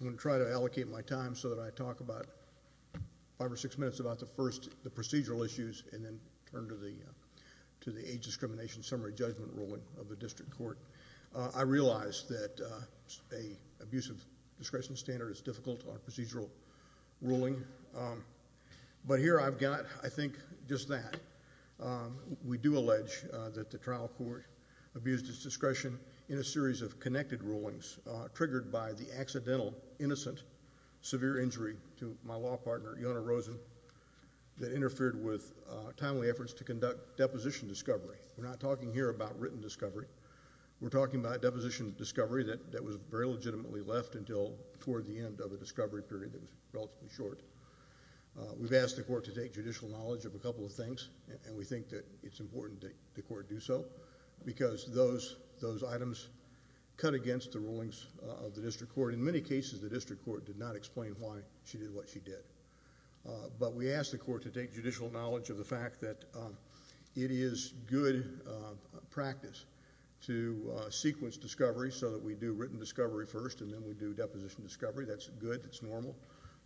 I'm going to try to allocate my time so that I talk about five or six minutes about the first procedural issues and then turn to the age discrimination summary judgment ruling of the district court. I realize that an abuse of discretion standard is difficult on procedural ruling, but here I've got, I think, just that. We do allege that the trial court abused its trial, innocent, severe injury to my law partner, Yona Rosen, that interfered with timely efforts to conduct deposition discovery. We're not talking here about written discovery. We're talking about deposition discovery that was very legitimately left until toward the end of a discovery period that was relatively short. We've asked the court to take judicial knowledge of a couple of things, and we think that it's important that the court do so, because those items cut against the rulings of the district court. In many cases, the district court did not explain why she did what she did. But we ask the court to take judicial knowledge of the fact that it is good practice to sequence discovery so that we do written discovery first and then we do deposition discovery. That's good. That's normal.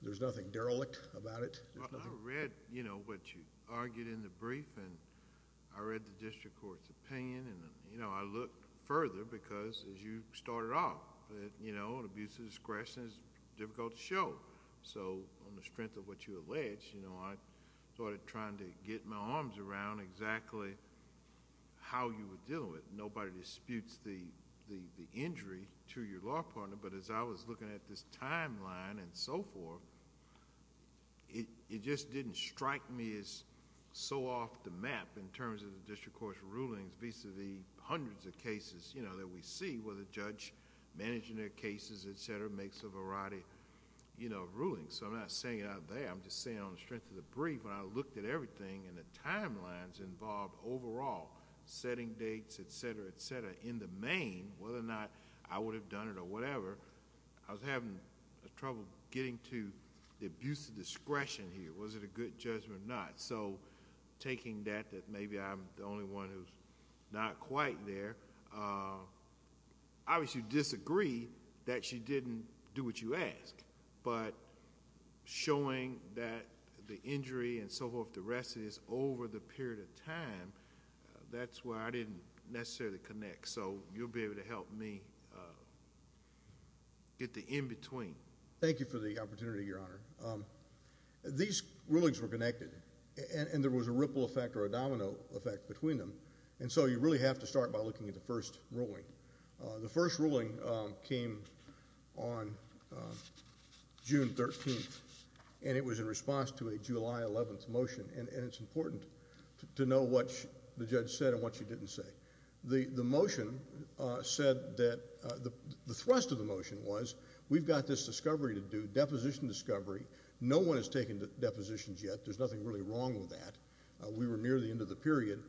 There's nothing derelict about it. I read what you argued in the brief, and I read the district court's opinion. I looked further because, as you started off, abuse of discretion is difficult to show. On the strength of what you allege, I started trying to get my arms around exactly how you were dealing with it. Nobody disputes the injury to your law partner, but as I was looking at this timeline and so forth, it just didn't strike me as so off the map in terms of the district court's rulings vis-a-vis hundreds of cases that we see where the judge managing their cases, etc., makes a variety of rulings. I'm not saying it out there. I'm just saying on the strength of the brief, when I looked at everything and the timelines involved overall, setting dates, etc., etc., in the main, whether or not I would have done it or whatever, I was having trouble getting to the abuse of discretion here. Was it a good judgment or not? Taking that, that maybe I'm the only one who's not quite there, obviously you disagree that she didn't do what you asked, but showing that the injury and so forth, the rest of this, over the period of time, that's where I didn't necessarily connect. So you'll be able to help me get the in-between. Thank you for the opportunity, Your Honor. These rulings were connected, and there was a ripple effect or a domino effect between them, and so you really have to start by looking at the first ruling. The first ruling came on June 13th, and it was in response to a July 11th motion, and it's important to know what the judge said and what she didn't say. The motion said that, the thrust of the motion was, we've got this discovery to do, deposition discovery, no one has taken depositions yet, there's nothing really wrong with that, we were near the end of the period,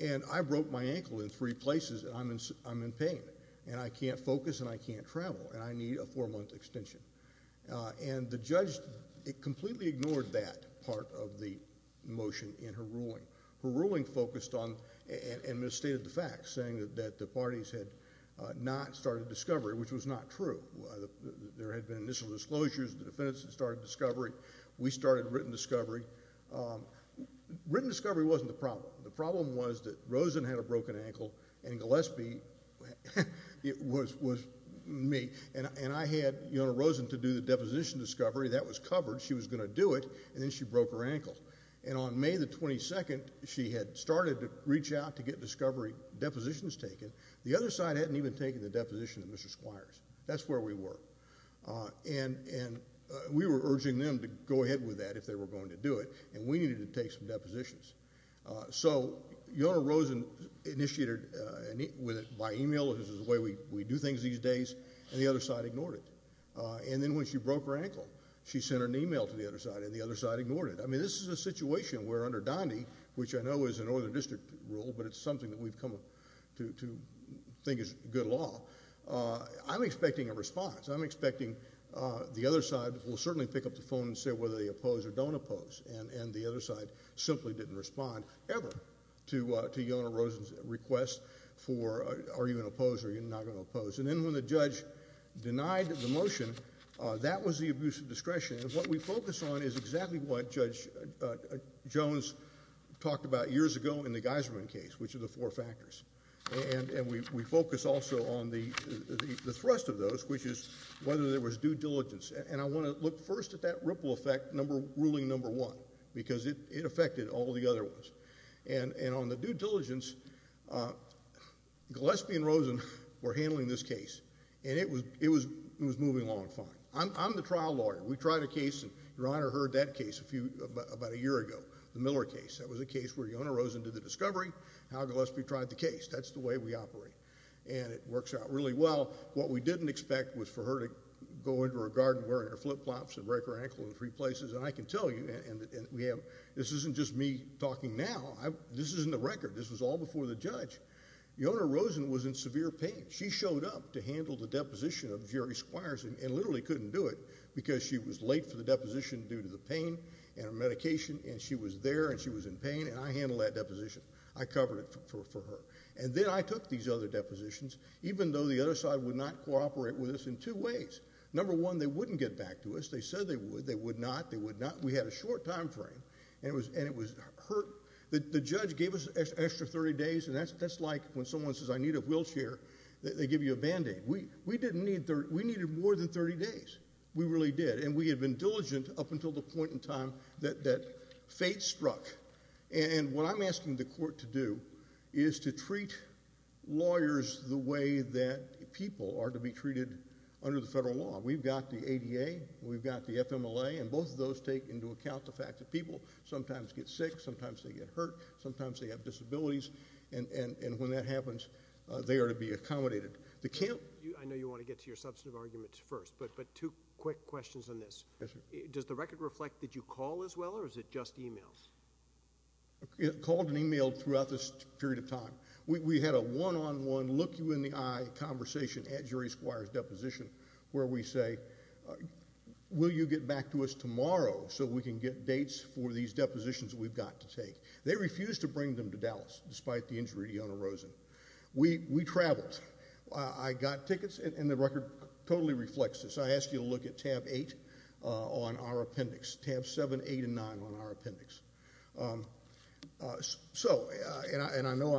and I broke my ankle in three places, and I'm in pain, and I can't focus and I can't travel, and I need a four-month extension. And the judge completely ignored that part of the motion in her ruling. Her ruling focused on and misstated the facts, saying that the parties had not started discovery, which was not true. There had been initial disclosures, the defendants had started discovery, we started written discovery. Written discovery wasn't the problem. The problem was that Rosen had a broken ankle, and Gillespie was me, and I had Rosen to do the deposition discovery, that was covered, she was going to do it, and then she broke her ankle. And on May 22nd, she had started to reach out to get discovery depositions taken, the other side hadn't even taken the deposition of Mr. Squires. That's where we were. And we were urging them to go ahead with that if they were going to do it, and we needed to take some depositions. So your Rosen initiated by email, which is the way we do things these days, and the other side ignored it. And then when she broke her ankle, she sent an email to the other side, and the other side ignored it. I mean, this is a situation where under Donde, which I know is a northern district rule, but it's something that we've come to think is good law, I'm expecting a response. I'm expecting the other side will certainly pick up the phone and say whether they oppose or don't oppose, and the other side simply didn't respond ever to Yelena Rosen's request for are you going to oppose or are you not going to oppose. And then when the judge denied the motion, that was the abuse of discretion. What we did is exactly what Judge Jones talked about years ago in the Geiserman case, which are the four factors. And we focus also on the thrust of those, which is whether there was due diligence. And I want to look first at that ripple effect, ruling number one, because it affected all the other ones. And on the due diligence, Gillespie and Rosen were handling this case, and it was moving along fine. I'm the trial lawyer. We tried a case, and your case, about a year ago, the Miller case. That was a case where Yelena Rosen did the discovery, and Al Gillespie tried the case. That's the way we operate. And it works out really well. What we didn't expect was for her to go into her garden wearing her flip flops and break her ankle in three places. And I can tell you, and this isn't just me talking now, this is in the record. This was all before the judge. Yelena Rosen was in severe pain. She showed up to handle the deposition of Jerry Squires and literally couldn't do it because she was late for the deposition due to the pain and her medication. And she was there, and she was in pain, and I handled that deposition. I covered it for her. And then I took these other depositions, even though the other side would not cooperate with us in two ways. Number one, they wouldn't get back to us. They said they would. They would not. They would not. We had a short time frame, and it was hurt. The judge gave us an extra 30 days, and that's like when someone says, I need a wheelchair, they give you a Band-Aid. We needed more than 30 days. We really did. And we had been diligent up until the point in time that fate struck. And what I'm asking the court to do is to treat lawyers the way that people are to be treated under the federal law. We've got the ADA, we've got the FMLA, and both of those take into account the fact that people sometimes get sick, sometimes they get hurt, sometimes they have disabilities, and when that happens, they are to be accommodated. I know you want to get to your substantive arguments first, but two quick questions on this. Does the record reflect that you call as well, or is it just emails? Called and emailed throughout this period of time. We had a one-on-one, look-you-in-the-eye conversation at Jury Squire's deposition where we say, will you get back to us tomorrow so we can get dates for these depositions we've got to take? They refused to bring them to us. We traveled. I got tickets, and the record totally reflects this. I asked you to look at tab 8 on our appendix, tab 7, 8, and 9 on our appendix. So, and I know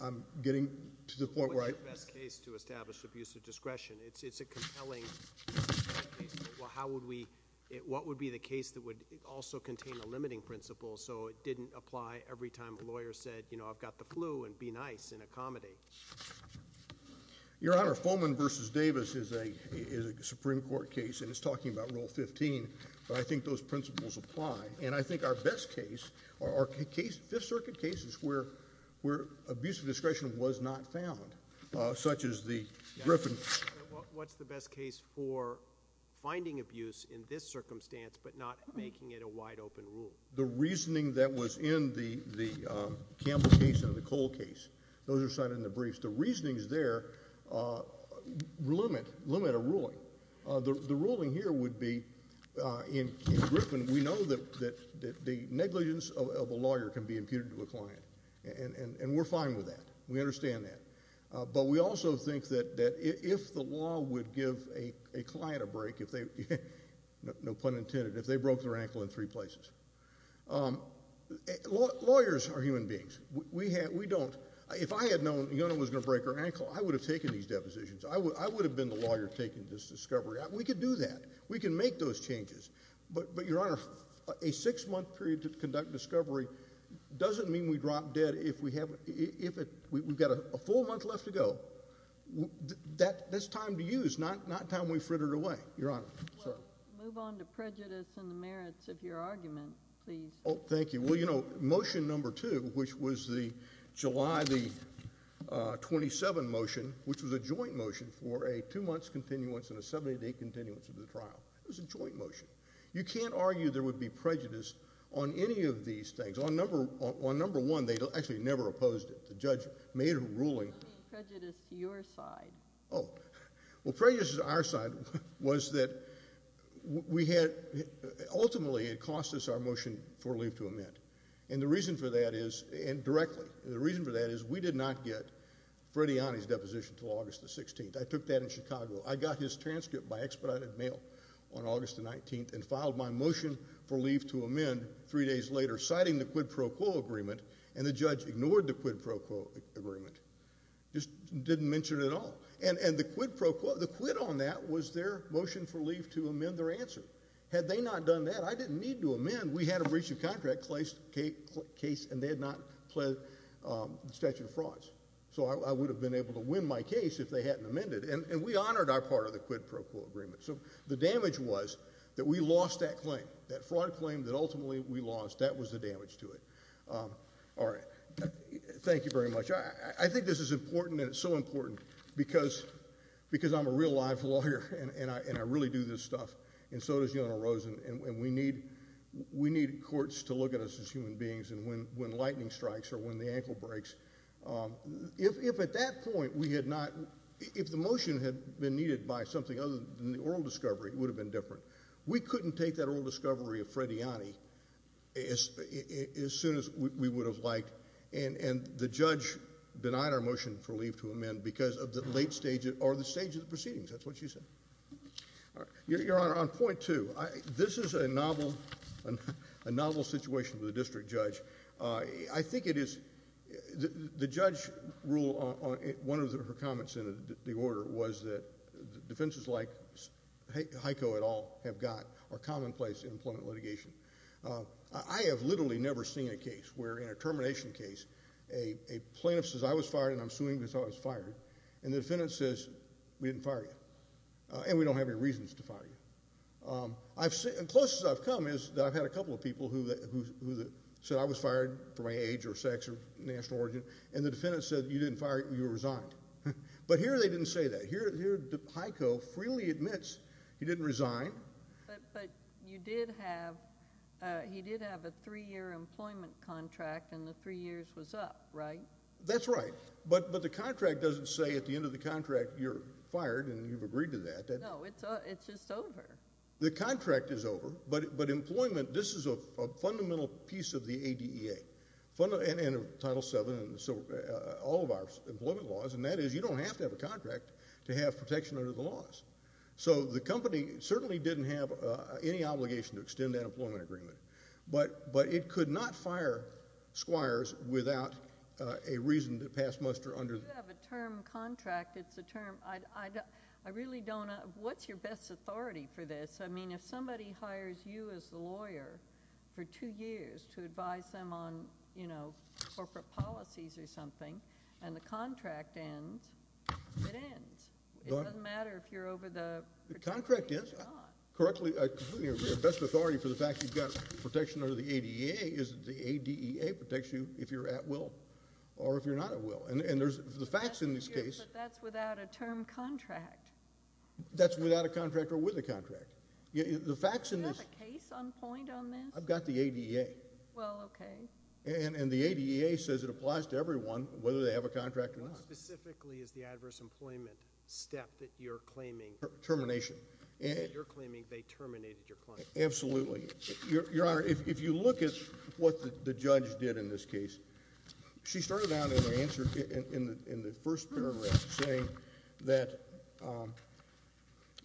I'm getting to the point where I... What's the best case to establish abusive discretion? It's a compelling case. How would we, what would be the case that would also contain a limiting principle so it didn't apply every time a lawyer said, you know, I've got the flu, and be nice, and accommodate? Your Honor, Fulman v. Davis is a Supreme Court case, and it's talking about Rule 15, but I think those principles apply. And I think our best case, our case, Fifth Circuit cases where abusive discretion was not found, such as the Griffin... What's the best case for finding abuse in this circumstance, but not making it a wide-open rule? The reasoning that was in the Campbell case and the Cole case, those are cited in the briefs. The reasonings there limit a ruling. The ruling here would be, in Griffin, we know that the negligence of a lawyer can be imputed to a client, and we're fine with that. We understand that. But we also think that if the law would give a client a break, if they, no pun intended, if they broke their ankle in three places. Lawyers are human beings. We don't, if I had known a young woman was going to break her ankle, I would have taken these depositions. I would have been the lawyer taking this discovery. We could do that. We can make those changes. But, Your Honor, a six-month period to conduct discovery doesn't mean we drop dead if we haven't, if we've got a full month left to go. That's time to go away, Your Honor. Well, move on to prejudice and the merits of your argument, please. Oh, thank you. Well, you know, Motion No. 2, which was the July the 27th motion, which was a joint motion for a two-months continuance and a 70-day continuance of the trial. It was a joint motion. You can't argue there would be prejudice on any of these things. On No. 1, they actually never opposed it. The judge made a ruling. I'm talking about prejudice to your side. Oh. Well, prejudice to our side was that we had, ultimately, it cost us our motion for leave to amend. And the reason for that is, and directly, the reason for that is we did not get Frediani's deposition until August the 16th. I took that in Chicago. I got his transcript by expedited mail on August the 19th and filed my motion for leave to amend three days later, citing the quid pro quo agreement, and the judge ignored the quid pro quo. And the quid pro quo, the quid on that was their motion for leave to amend their answer. Had they not done that, I didn't need to amend. We had a breach of contract case and they had not pledged statute of frauds. So I would have been able to win my case if they hadn't amended. And we honored our part of the quid pro quo agreement. So the damage was that we lost that claim, that fraud claim that ultimately we lost. That was the damage to it. All right. Thank you very much. I think this is important, and it's so important, because I'm a real life lawyer and I really do this stuff, and so does Your Honor Rosen, and we need courts to look at us as human beings, and when lightning strikes or when the ankle breaks, if at that point we had not, if the motion had been needed by something other than the oral discovery, it would have been different. We couldn't take that oral discovery of Frediani as soon as we would have liked, and the judge denied our motion for leave to amend because of the late stage or the stage of the proceedings. That's what she said. Your Honor, on point two, this is a novel situation for the district judge. I think it is, the judge ruled, one of her comments in the order was that defenses like Heiko et al. have got are commonplace in employment litigation. I have literally never seen a case where, in a termination case, a plaintiff says, I was fired and I'm suing because I was fired, and the defendant says, we didn't fire you, and we don't have any reasons to fire you. The closest I've come is that I've had a couple of people who said I was fired for my age or sex or national origin, and the defendant said, you didn't fire, you resigned. But here they didn't say that. Here Heiko freely admits he didn't resign. But you did have, he did have a three-year employment contract, and the three years was up, right? That's right. But the contract doesn't say, at the end of the contract, you're fired and you've agreed to that. No, it's just over. The contract is over, but employment, this is a fundamental piece of the ADEA, and Title VII, and all of our employment laws, and that is you don't have to have a contract to have protection under the laws. So the company certainly didn't have any obligation to extend that employment agreement, but it could not fire squires without a reason to pass muster under the... You do have a term, contract. It's a term. I really don't. What's your best authority for this? I mean, if somebody hires you as the lawyer for two years to advise them on, you know, corporate policies or something, and the contract ends, it ends. It doesn't matter if you're over the... The contract is. Correctly, your best authority for the fact you've got protection under the ADEA is that the ADEA protects you if you're at will or if you're not at will. And there's... But that's without a term, contract. That's without a contract or with a contract. The facts in this... Do you have a case on point on this? I've got the ADEA. Well, okay. And the ADEA says it applies to everyone, whether they have a contract or not. How specifically is the adverse employment step that you're claiming... Termination.... that you're claiming they terminated your client? Absolutely. Your Honor, if you look at what the judge did in this case, she started out in the first paragraph saying that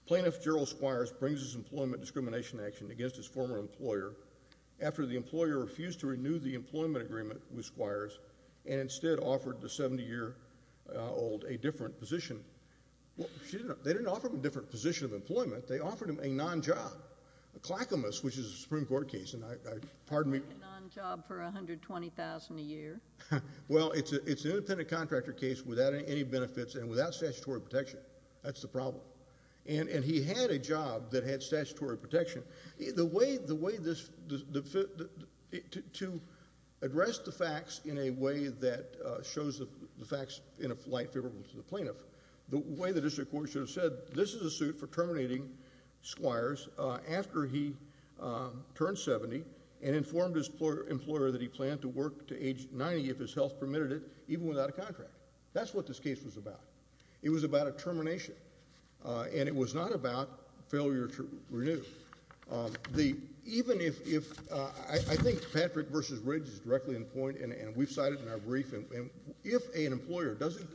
Plaintiff Gerald Squires brings his employment discrimination action against his former employer after the employer refused to renew the employment agreement with Squires and instead offered the 70-year old a different position. Well, she didn't... They didn't offer him a different position of employment. They offered him a non-job, a claquemous, which is a Supreme Court case. And I... Pardon me? A non-job for $120,000 a year? Well, it's an independent contractor case without any benefits and without statutory protection. That's the problem. And he had a job that had statutory protection. The way this... To address the facts in a way that shows the facts in a light favorable to the plaintiff, the way the district court should have said, this is a suit for terminating Squires after he turned 70 and informed his employer that he planned to work to age 90 if his health permitted it, even without a contract. That's what this case was about. It was about a termination. And it was not about failure to renew. The... Even if... I think Patrick v. Riggs is directly in the point, and we've cited in our brief, and if an employer doesn't...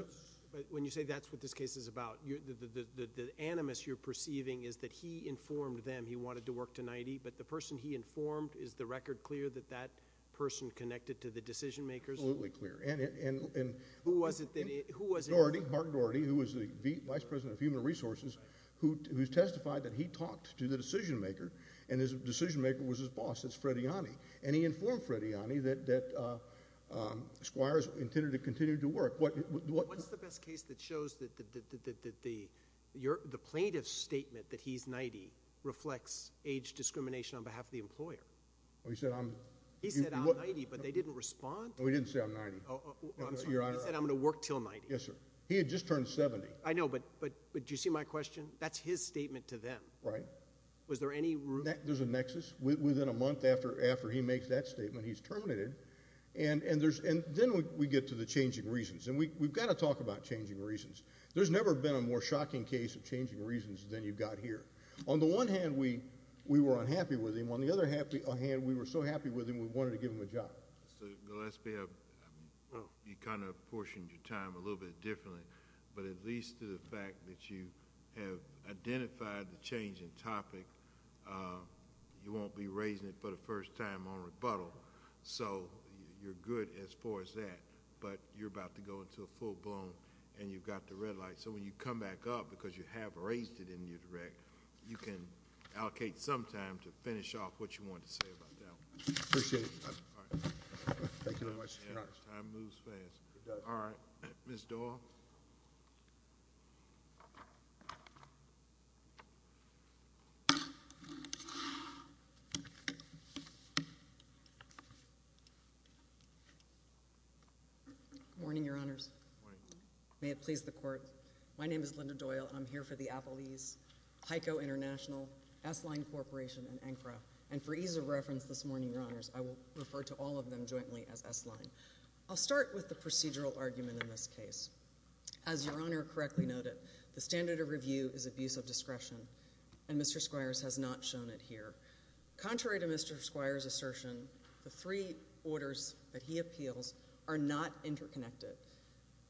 When you say that's what this case is about, the animus you're perceiving is that he informed them he wanted to work to 90, but the person he informed, is the record clear that that person connected to the decision makers? Absolutely clear. Who was it that... Mark Dougherty, who was the Vice President of Human Resources, who testified that he talked to the decision maker, and his decision maker was his boss, it's Frediani. And he informed Frediani that Squires intended to continue to work. What's the best case that shows that the plaintiff's statement that he's 90 reflects age discrimination on behalf of the employer? He said I'm... He said I'm 90, but they didn't respond? We didn't say I'm 90. I'm sorry, you said I'm going to work till 90. Yes, sir. He had just turned 70. I know, but do you see my question? That's his statement to them. Right. Was there any... There's a nexus. Within a month after he makes that statement, he's terminated, and then we get to the changing reasons. And we've got to talk about changing reasons. There's never been a more shocking case of changing reasons than you've got here. On the one hand, we were unhappy with him. On the other hand, we were so happy with him, we wanted to give him a job. Mr. Gillespie, you kind of portioned your time a little bit differently, but at least to the fact that you have identified the changing topic, you won't be raising it for the first time on rebuttal. So you're good as far as that, but you're about to go into a full-blown, and you've got the red light. So when you come back up, because you have raised it in your direct, you can allocate some time to finish off what you want to say about that one. I appreciate it. All right. Thank you very much, Your Honor. Time moves fast. It does. All right. Ms. Doyle? Good morning, Your Honors. Good morning. May it please the Court. My name is Linda Doyle, and I'm here for the defense this morning, Your Honors. I will refer to all of them jointly as S-line. I'll start with the procedural argument in this case. As Your Honor correctly noted, the standard of review is abuse of discretion, and Mr. Squires has not shown it here. Contrary to Mr. Squires' assertion, the three orders that he appeals are not interconnected.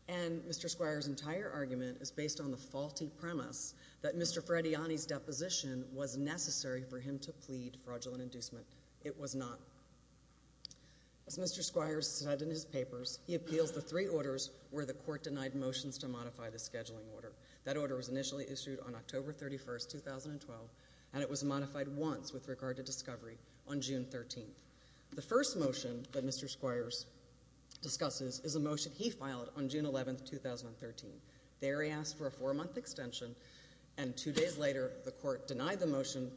And Mr. Squires' entire argument is based on the faulty premise that Mr. Frediani's deposition was necessary for him to plead fraudulent inducement. It was not. As Mr. Squires said in his papers, he appeals the three orders where the Court denied motions to modify the scheduling order. That order was initially issued on October 31, 2012, and it was modified once with regard to discovery on June 13. The first motion that Mr. Squires discusses is a motion he filed on June 11, 2013. There, he asked for a four-month extension, and two days later, the Court denied the extension.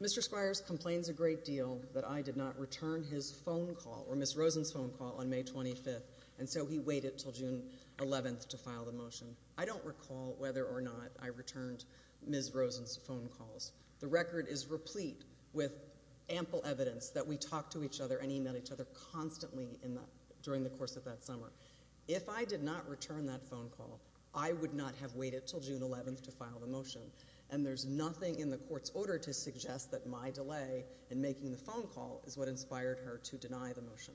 Mr. Squires complains a great deal that I did not return his phone call or Ms. Rosen's phone call on May 25, and so he waited until June 11 to file the motion. I don't recall whether or not I returned Ms. Rosen's phone calls. The record is replete with ample evidence that we talked to each other and he met each other constantly during the course of that summer. If I did not return that phone call, I would not have waited until June 11 to file the motion, and there's nothing in the Court's order to suggest that my delay in making the phone call is what inspired her to deny the motion.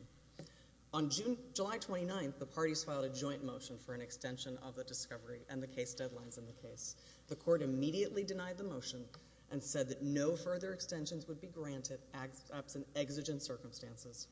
On July 29, the parties filed a joint motion for an extension of the discovery and the case deadlines in the case. The Court immediately denied the motion and said that no further extensions would be granted absent exigent circumstances.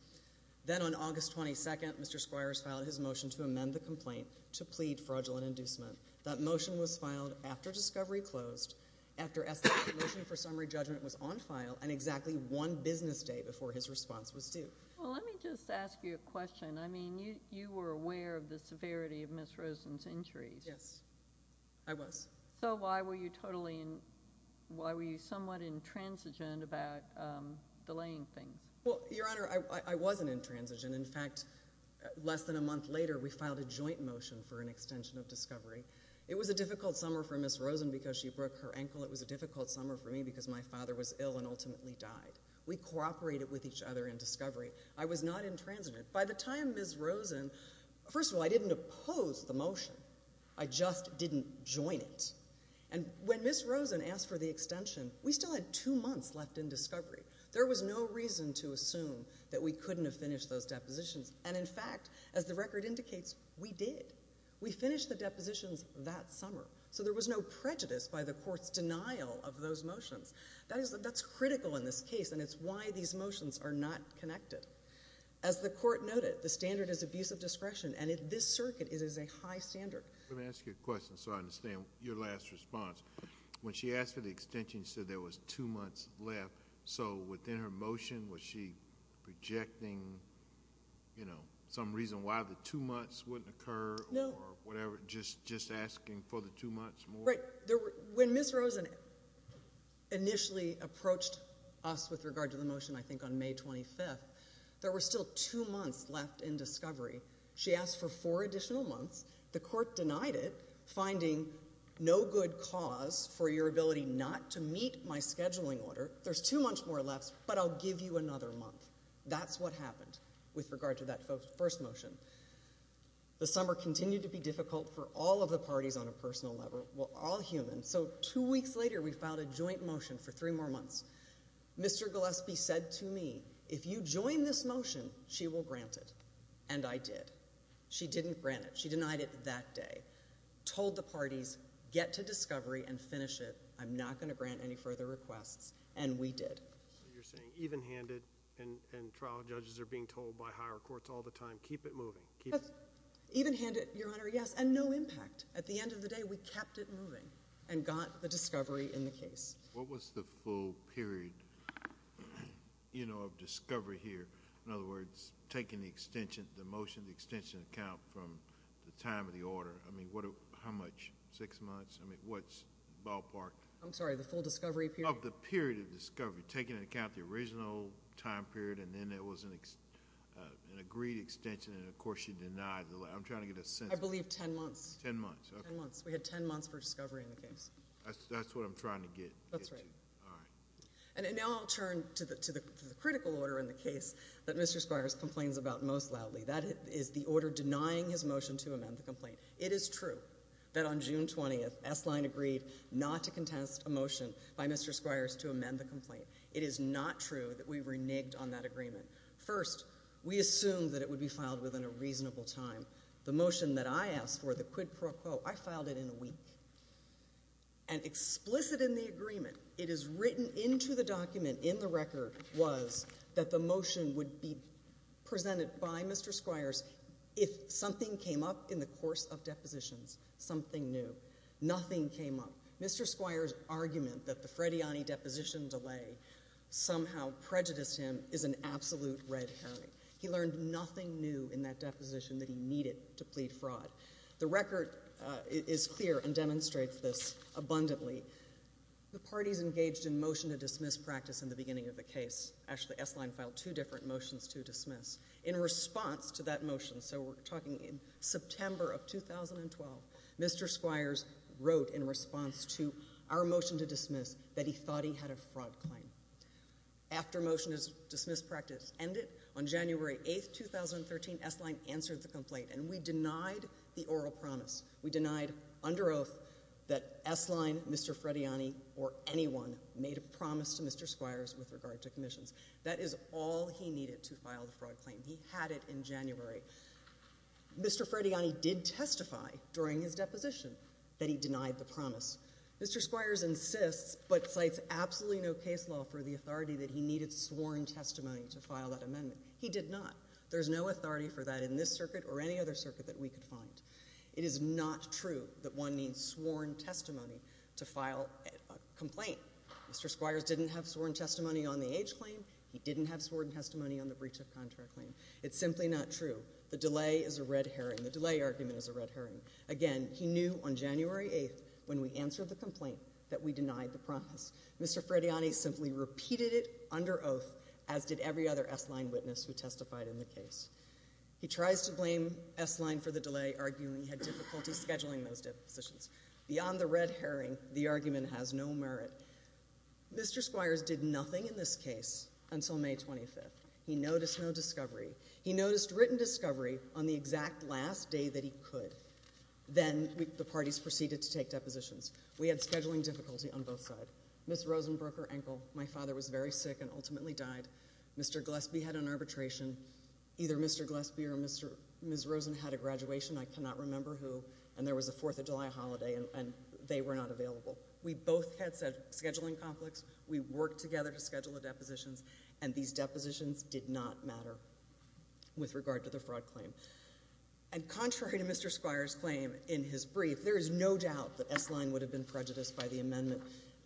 Then on August 22, Mr. Squires filed his motion to amend the complaint to plead fraudulent inducement. That motion was filed after discovery closed, after the motion for summary judgment was on file, and exactly one business day before his response was due. Well, let me just ask you a question. I mean, you were aware of the severity of Ms. Rosen's injuries. Yes, I was. So why were you somewhat intransigent about delaying things? Well, Your Honor, I wasn't intransigent. In fact, less than a month after I filed my joint motion for an extension of discovery, it was a difficult summer for Ms. Rosen because she broke her ankle. It was a difficult summer for me because my father was ill and ultimately died. We cooperated with each other in discovery. I was not intransigent. By the time Ms. Rosen—first of all, I didn't oppose the motion. I just didn't join it. And when Ms. Rosen asked for the extension, we still had two months left in discovery. There was no reason to assume that we couldn't have finished those motions. We did. We finished the depositions that summer. So there was no prejudice by the Court's denial of those motions. That's critical in this case, and it's why these motions are not connected. As the Court noted, the standard is abuse of discretion, and this circuit is a high standard. Let me ask you a question so I understand your last response. When she asked for the extension, you said there was two months left. So within her motion, was she projecting some reason why the two months wouldn't occur or whatever, just asking for the two months more? Right. When Ms. Rosen initially approached us with regard to the motion, I think on May 25th, there were still two months left in discovery. She asked for four additional months. The Court denied it, finding no good cause for your ability not to meet my scheduling order. There's two months more left, but I'll give you another month. That's what happened with regard to that first motion. The summer continued to be difficult for all of the parties on a personal level, all human. So two weeks later, we filed a joint motion for three more months. Mr. Gillespie said to me, if you join this motion, she will grant it, and I did. She didn't grant it. She denied it that day, told the parties, get to discovery and finish it. I'm not going to grant any further requests, and we did. You're saying even-handed, and trial judges are being told by higher courts all the time, keep it moving. Even-handed, Your Honor, yes, and no impact. At the end of the day, we kept it moving and got the discovery in the case. What was the full period of discovery here? In other words, taking the extension, the motion, the extension account from the time of the order. I mean, how much? Six months? I mean, what's ballpark? I'm trying to get a sense. The full period of discovery, taking into account the original time period, and then there was an agreed extension, and of course, she denied. I'm trying to get a sense. I believe ten months. Ten months, okay. Ten months. We had ten months for discovery in the case. That's what I'm trying to get to. That's right. All right. And now I'll turn to the critical order in the case that Mr. Squires complains about most loudly. That is the order denying his motion to amend the complaint. It is true that on June 20th, S-Line agreed not to contest a motion by Mr. Squires to amend the complaint. It is not true that we reneged on that agreement. First, we assumed that it would be filed within a reasonable time. The motion that I asked for, the quid pro quo, I filed it in a week. And explicit in the agreement, it is written into the document in the record was that the motion would be presented by Mr. Squires if something came up in the course of depositions, something new. Nothing came up. Mr. Squires' argument that the Frediani deposition delay somehow prejudiced him is an absolute red herring. He learned nothing new in that deposition that he needed to plead fraud. The record is clear and demonstrates this abundantly. The parties engaged in motion to dismiss practice in the beginning of the case. Actually, S-Line filed two different motions to dismiss. In response to that motion, so we're talking in September of 2012, Mr. Squires wrote in response to our motion to dismiss that he thought he had a fraud claim. After motion to dismiss practice ended on January 8th, 2013, S-Line answered the complaint, and we denied the oral promise. We denied under oath that S-Line, Mr. Frediani, or anyone made a promise to Mr. Squires with regard to commissions. That is all he needed to file the fraud claim. He had it in January. Mr. Frediani did testify during his deposition that he denied the promise. Mr. Squires insists, but cites absolutely no case law for the authority that he needed sworn testimony to file that amendment. He did not. There's no authority for that in this circuit or any other circuit that we could find. It is not true that one needs sworn testimony to file a complaint. Mr. Squires didn't have sworn testimony on the age claim. He didn't have sworn testimony on the breach of contract claim. It's simply not true. The delay is a red herring. The delay argument is a red herring. Again, he knew on January 8th, when we answered the complaint, that we denied the promise. Mr. Frediani simply repeated it under oath, as did every other S-Line witness who testified in the case. He tries to blame S-Line for the delay, arguing he had difficulty scheduling those depositions. Beyond the red herring, the argument has no merit. Mr. Squires did nothing in this case until May 25th. He noticed no discovery. He noticed written discovery on the exact last day that he could. Then the parties proceeded to take depositions. We had scheduling difficulty on both sides. Ms. Rosen broke her ankle. My father was very sick and ultimately died. Mr. Gillespie had an arbitration. Either Mr. Gillespie or Ms. Rosen had a graduation. I cannot remember who, and there was a Fourth of July holiday, and they were not available. We both had scheduling conflicts. We worked together to schedule the depositions, and these depositions did not matter with regard to the fraud claim. And contrary to Mr. Squires' claim in his brief, there is no doubt that S-Line would have been prejudiced by the amendment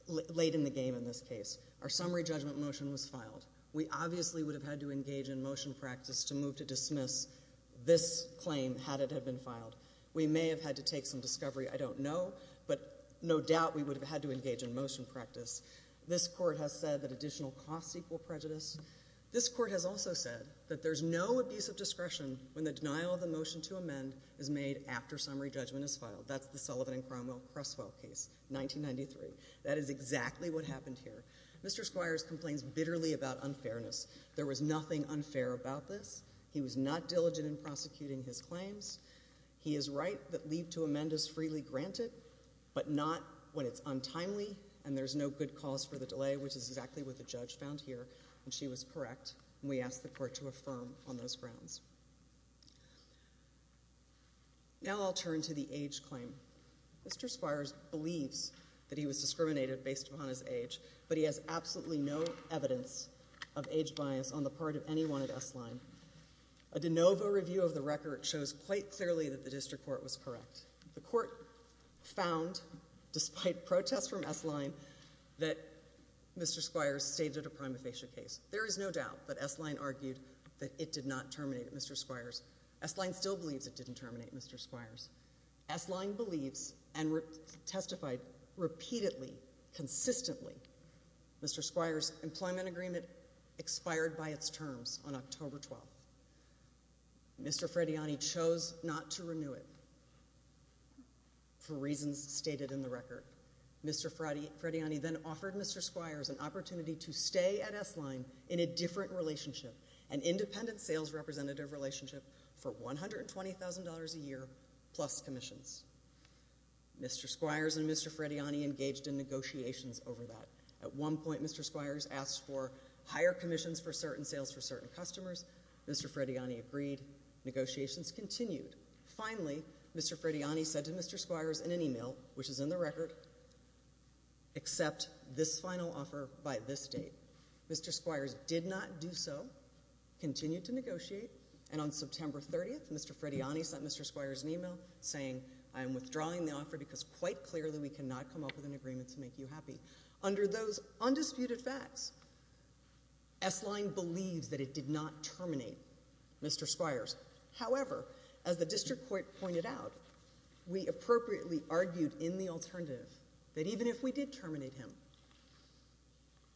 late in the game in this case. Our summary judgment motion was filed. We obviously would have had to engage in motion practice to move to dismiss this claim had it been filed. We may have had to take some discovery. I don't know, but no doubt we would have had to engage in motion practice. This Court has said that additional costs equal prejudice. This Court has also said that there is no abuse of discretion when the denial of the motion to amend is made after summary judgment is filed. That's the Sullivan and Cromwell Cresswell case, 1993. That is exactly what happened here. Mr. Squires complains bitterly about unfairness. There was nothing unfair about this. He was not diligent in prosecuting his claims. He is right that leave to amend is freely granted, but not when it's untimely and there's no good cause for the delay, which is exactly what the judge found here, and she was correct, and we ask the Court to affirm on those grounds. Now I'll turn to the age claim. Mr. Squires believes that he was discriminated based upon his age, but he has absolutely no evidence of age bias on the part of anyone at S-Line. A de novo review of the record shows quite clearly that the District Court was correct. The Court found, despite protests from S-Line, that Mr. Squires stated a prima facie case. There is no doubt that S-Line argued that it did not terminate Mr. Squires. S-Line still Mr. Squires' employment agreement expired by its terms on October 12th. Mr. Frediani chose not to renew it for reasons stated in the record. Mr. Frediani then offered Mr. Squires an opportunity to stay at S-Line in a different relationship, an independent sales representative relationship for $120,000 a year plus commissions. Mr. Squires and Mr. Frediani agreed to that. At one point, Mr. Squires asked for higher commissions for certain sales for certain customers. Mr. Frediani agreed. Negotiations continued. Finally, Mr. Frediani said to Mr. Squires in an email, which is in the record, accept this final offer by this date. Mr. Squires did not do so, continued to negotiate, and on September 30th, Mr. Frediani sent Mr. Squires an email saying, I am withdrawing the offer because quite clearly we cannot come up with an agreement to make you happy. Under those undisputed facts, S-Line believes that it did not terminate Mr. Squires. However, as the district court pointed out, we appropriately argued in the alternative that even if we did terminate him,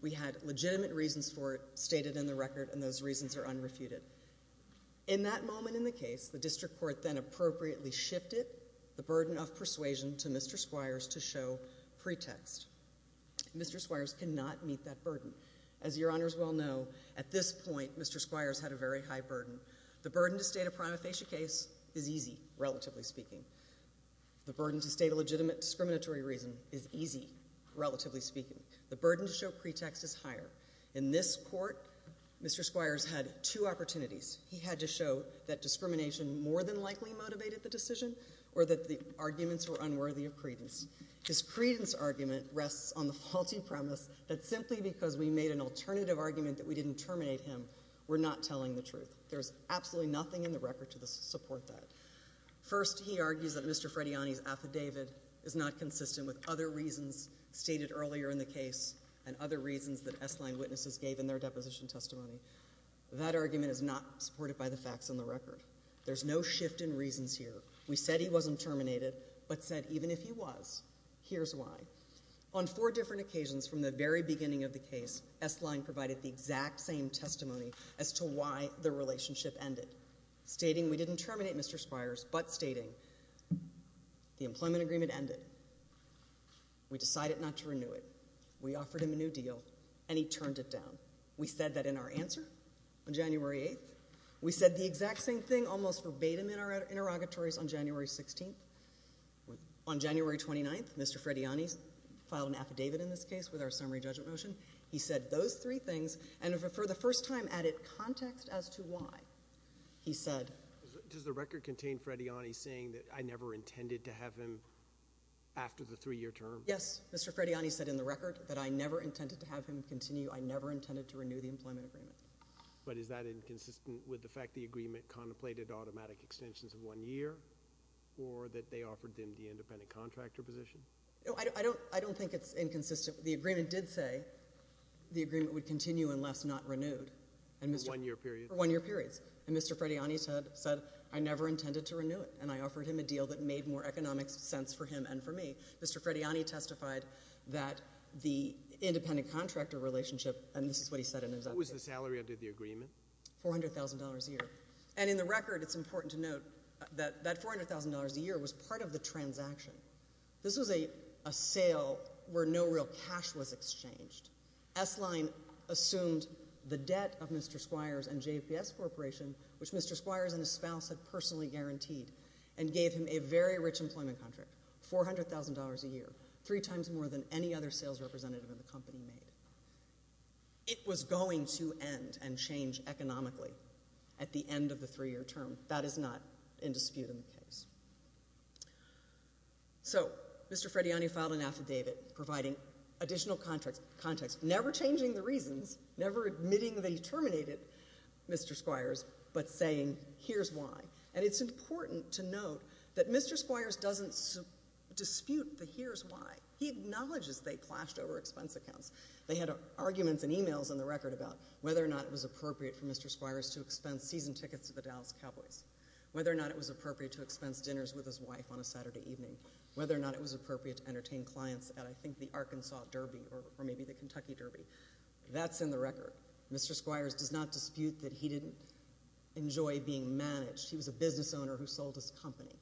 we had legitimate reasons for it stated in the record, and those reasons are unrefuted. In that moment in the case, the district court then appropriately shifted the burden of persuasion to Mr. Squires to show pretext. Mr. Squires cannot meet that burden. As your honors well know, at this point, Mr. Squires had a very high burden. The burden to state a prima facie case is easy, relatively speaking. The burden to state a legitimate discriminatory reason is easy, relatively speaking. The burden to show pretext is higher. In this court, Mr. Squires had two opportunities. He had to show that discrimination more than likely motivated the decision or that the arguments were unworthy of credence. His credence argument rests on the faulty premise that simply because we made an alternative argument that we didn't terminate him, we're not telling the truth. There's absolutely nothing in the record to support that. First, he argues that Mr. Frediani's affidavit is not consistent with other reasons stated earlier in the case and other reasons that S-Line witnesses gave in their deposition testimony. That argument is not supported by the facts in the record. There's no shift in reasons here. We said he wasn't terminated, but said even if he was, here's why. On four different occasions from the very beginning of the case, S-Line provided the exact same testimony as to why the relationship ended, stating we didn't terminate Mr. Squires, but stating the employment agreement ended. We decided not to renew it. We offered him a new deal, and he turned it down. We said that in our answer on January 8th. We said the exact same thing almost verbatim in our interrogatories on January 16th. On January 29th, Mr. Frediani filed an affidavit in this case with our summary judgment motion. He said those three things, and for the first time added context as to why. He said... Does the record contain Frediani saying that I never intended to have him after the three-year term? Yes. Mr. Frediani said in the record that I never intended to have him continue. I never intended to renew the employment agreement. But is that inconsistent with the fact the agreement contemplated automatic extensions of one year, or that they offered him the independent contractor position? I don't think it's inconsistent. The agreement did say the agreement would continue unless not renewed. One-year period? One-year periods. And Mr. Frediani said I never intended to renew it, and I offered him a deal that made more economic sense for him and for me. Mr. Frediani testified that the independent contractor relationship, and this is what he said in his affidavit... What was the salary under the agreement? $400,000 a year. And in the record, it's important to note that that $400,000 a year was part of the transaction. This was a sale where no real cash was exchanged. S-Line assumed the debt of Mr. Squires and JPS Corporation, which Mr. Squires and his spouse had personally guaranteed, and gave him a very rich employment contract, $400,000 a year, three times more than any other sales representative in the company made. It was going to end and change economically at the end of the three-year term. That is not in dispute in the case. So, Mr. Frediani filed an affidavit providing additional context, never changing the reasons, never admitting that he terminated Mr. Squires, but saying here's why. And it's important to note that Mr. Squires doesn't dispute the here's why. He acknowledges they clashed over expense accounts. They had arguments and emails in the record about whether or not it was appropriate for Mr. Squires to expense season tickets to the Dallas Cowboys, whether or not it was appropriate to expense dinners with his wife on a Saturday evening, whether or not it was appropriate to entertain clients at, I think, the Arkansas Derby or maybe the Kentucky Derby. That's in the record. Mr. Squires does not dispute that he didn't enjoy being managed. He was a business owner who sold his company.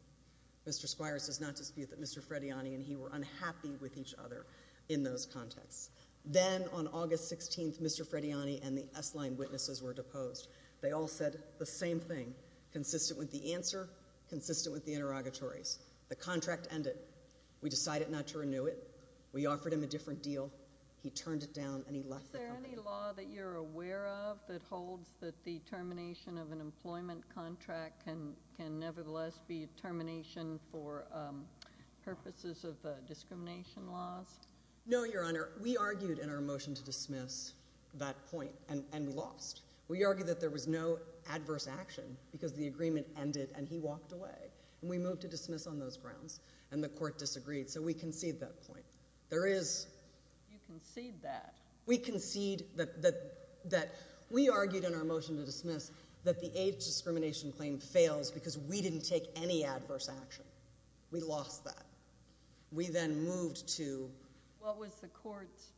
Mr. Squires does not dispute that Mr. Frediani and he were unhappy with each other in those contexts. Then, on August 16th, Mr. Frediani and the S-line witnesses were deposed. They all said the same thing, consistent with the answer, consistent with the interrogatories. The contract ended. We decided not to renew it. We offered him a different deal. He turned it down and he left the company. Is there any law that you're aware of that holds that the termination of an employment contract can nevertheless be a termination for purposes of discrimination laws? No, Your Honor. We argued in our motion to dismiss that point and lost. We argued that there was no adverse action because the agreement ended and he walked away. We moved to dismiss on those grounds and the court disagreed, so we concede that point. You concede that? We concede that we argued in our motion to dismiss that the AIDS discrimination claim fails because we didn't take any adverse action. We lost that. We then moved to— What was the court's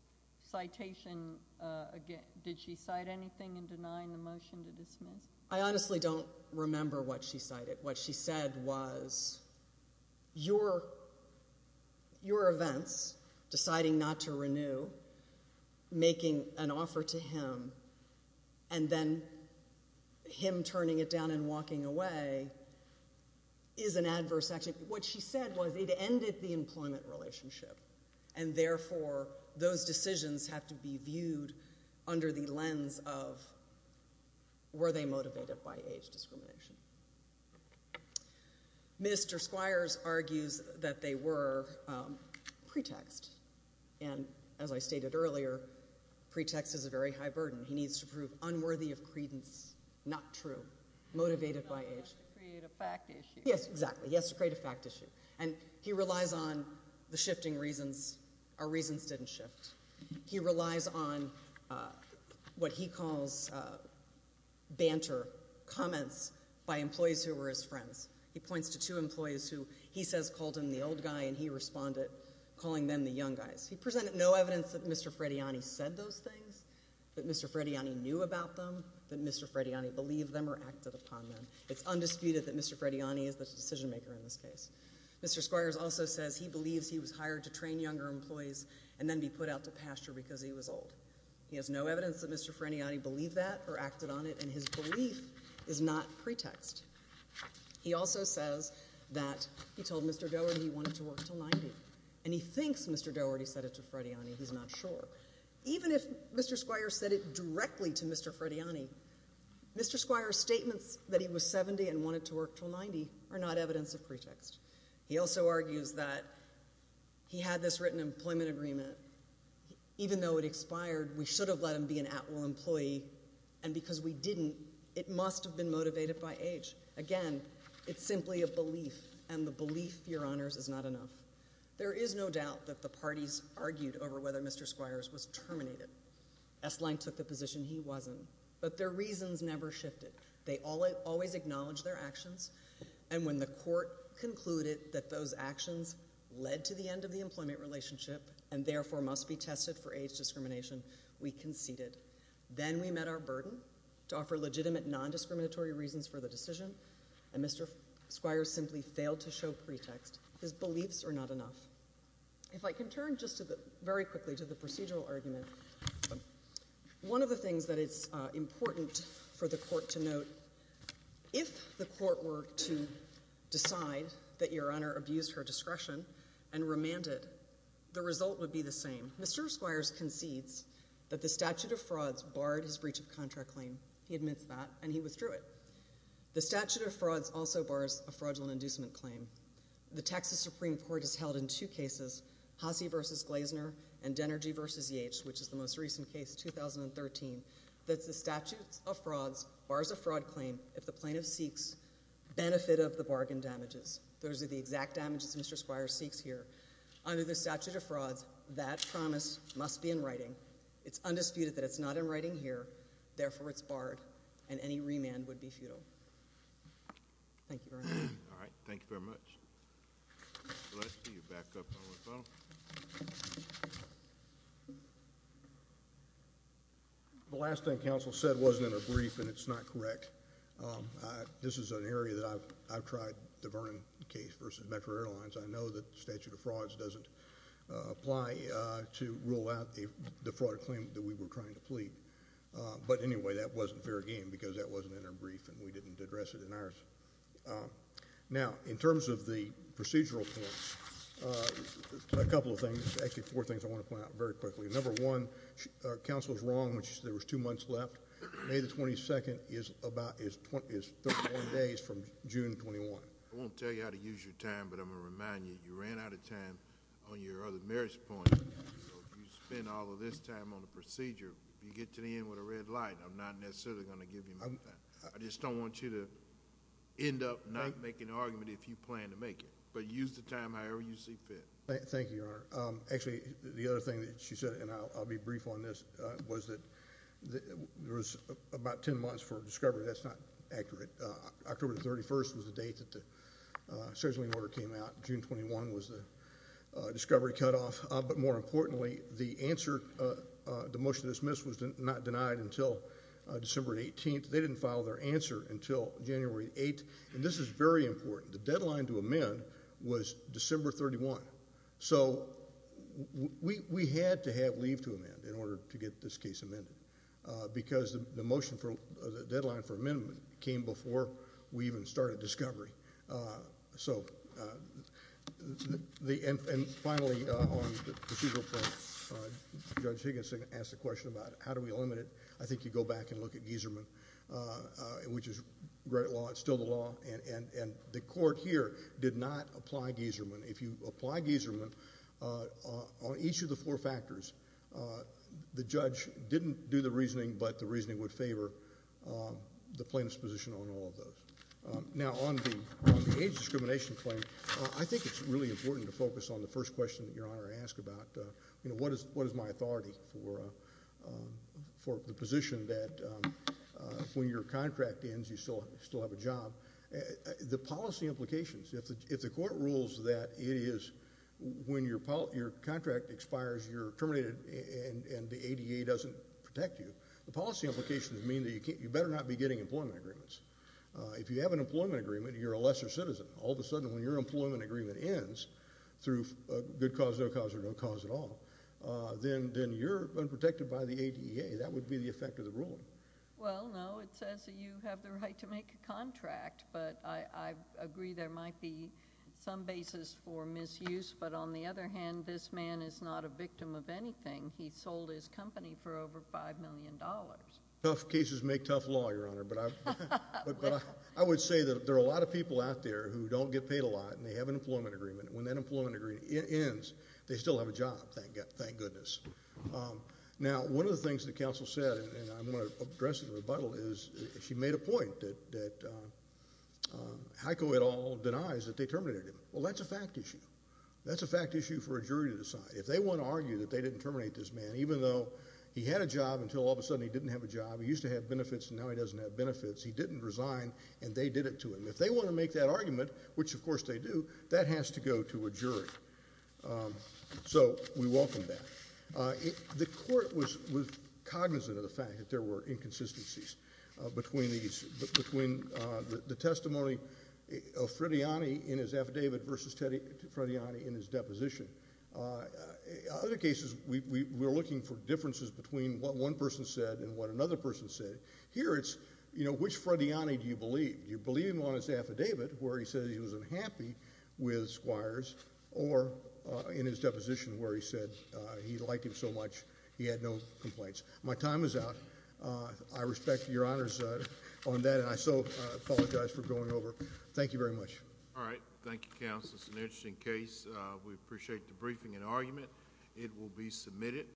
citation? Did she cite anything in denying the motion to dismiss? I honestly don't remember what she cited. What she said was, your events, deciding not to renew, making an offer to him, and then him turning it down and walking away is an adverse action. What she said was it ended the employment relationship, and therefore those decisions have to be viewed under the lens of were they motivated by AIDS discrimination. Minister Squires argues that they were pretext, and as I stated earlier, pretext is a very high burden. He needs to prove unworthy of credence, not true, motivated by AIDS. He has to create a fact issue. Yes, exactly. He has to create a fact issue, and he relies on the shifting reasons. Our He points to two employees who he says called him the old guy, and he responded calling them the young guys. He presented no evidence that Mr. Frediani said those things, that Mr. Frediani knew about them, that Mr. Frediani believed them or acted upon them. It's undisputed that Mr. Frediani is the decision maker in this case. Mr. Squires also says he believes he was hired to train younger employees and then be put out to pasture because he was old. He has no evidence that Mr. Frediani believed that or acted on it, and his belief is not pretext. He also says that he told Mr. Doherty he wanted to work until 90, and he thinks Mr. Doherty said it to Frediani. He's not sure. Even if Mr. Squires said it directly to Mr. Frediani, Mr. Squires' statements that he was 70 and wanted to work until 90 are not evidence of pretext. He also argues that he had this written employment agreement. Even though it expired, we should let him be an at-will employee, and because we didn't, it must have been motivated by age. Again, it's simply a belief, and the belief, Your Honors, is not enough. There is no doubt that the parties argued over whether Mr. Squires was terminated. S-Line took the position he wasn't, but their reasons never shifted. They always acknowledged their actions, and when the court concluded that those actions led to the end of the employment relationship, and therefore must be tested for age discrimination, we conceded. Then we met our burden to offer legitimate non-discriminatory reasons for the decision, and Mr. Squires simply failed to show pretext. His beliefs are not enough. If I can turn just to the, very quickly, to the procedural argument. One of the things that it's important for the court to note, if the court were to decide that Your Honor abused her discretion and remanded, the result would be the same. Mr. Squires concedes that the statute of frauds barred his breach of contract claim. He admits that, and he withdrew it. The statute of frauds also bars a fraudulent inducement claim. The Texas Supreme Court has held in two cases, Hassee v. Glazner and Denergy v. Yates, which is the most recent case, 2013, that the statute of frauds bars a fraud claim if the plaintiff seeks benefit of the bargain damages. Those are the exact damages Mr. Squires seeks here. Under the statute of frauds, that promise must be in writing. It's undisputed that it's not in writing here. Therefore, it's barred, and any remand would be futile. Thank you very much. All right. Thank you very much. Let's see you back up a little. The last thing counsel said wasn't in her brief, and it's not correct. This is an area that I've tried the Vernon case versus Metro Airlines. I know that the statute of frauds doesn't apply to rule out the fraud claim that we were trying to plead. But anyway, that wasn't fair game because that wasn't in her brief, and we didn't address it in ours. Now, in terms of the procedural point, a couple of things. Actually, four things I want to point out very quickly. Number one, counsel was wrong when she said there was two months left. May the 22nd is 31 days from June 21. I won't tell you how to use your time, but I'm going to remind you, you ran out of time on your other merits point. You spent all of this time on the procedure. If you get to the end with a red light, I'm not necessarily going to give you more time. I just don't want you to end up not making an argument if you plan to make it. But use the time however you see fit. Thank you, Your Honor. Actually, the other thing that she said, and I'll be brief on this, was that there was about ten months for discovery. That's not accurate. October 31st was the date that the search warning order came out. June 21 was the discovery cutoff. But more importantly, the answer, the motion to dismiss was not denied until December 18th. They didn't file their answer until January 8th. And this is very important. The deadline to amend was December 31. So we had to have leave to amend in order to get this case amended because the deadline for amendment came before we even started discovery. And finally, on the procedural point, Judge Higgins asked a question about how do we limit it. I think you go back and look at Gieserman, which is great law. It's still the law. And the court here did not apply Gieserman. If you apply Gieserman on each of the four factors, the judge didn't do the reasoning, but the reasoning would favor the plaintiff's position on all of those. Now, on the age discrimination claim, I think it's really important to focus on the first question that Your Honor asked about, you know, what is my authority for the position that when your contract ends you still have a job. The policy implications, if the court rules that it is when your contract expires, you're terminated and the ADA doesn't protect you, the policy implications mean that you better not be getting employment agreements. If you have an employment agreement, you're a lesser citizen. All of a sudden when your employment agreement ends through good cause, no cause, or no cause at all, then you're unprotected by the ADA. That would be the effect of the ruling. Well, no, it says that you have the right to make a contract, but I agree there might be some basis for misuse. But on the other hand, this man is not a victim of anything. He sold his company for over $5 million. Tough cases make tough law, Your Honor. But I would say that there are a lot of people out there who don't get paid a lot and they have an employment agreement. When that employment agreement ends, they still have a job, thank goodness. Now, one of the things that counsel said, and I'm going to address it in rebuttal, is she made a point that Heiko et al. denies that they terminated him. Well, that's a fact issue. That's a fact issue for a jury to decide. If they want to argue that they didn't terminate this man, even though he had a job until all of a sudden he didn't have a job, he used to have benefits and now he doesn't have benefits, he didn't resign and they did it to him. If they want to make that argument, which of course they do, that has to go to a jury. So we welcome that. The court was cognizant of the fact that there were inconsistencies between these, between the testimony of Frediani in his affidavit versus Frediani in his deposition. Other cases, we're looking for differences between what one person said and what another person said. Here it's, you know, which Frediani do you believe? Do you believe him on his affidavit where he says he was unhappy with squires or in his deposition where he said he liked him so much he had no complaints? My time is out. I respect your honors on that and I so apologize for going over. Thank you very much. All right. Thank you, counsel. It's an interesting case. We appreciate the briefing and argument. It will be submitted.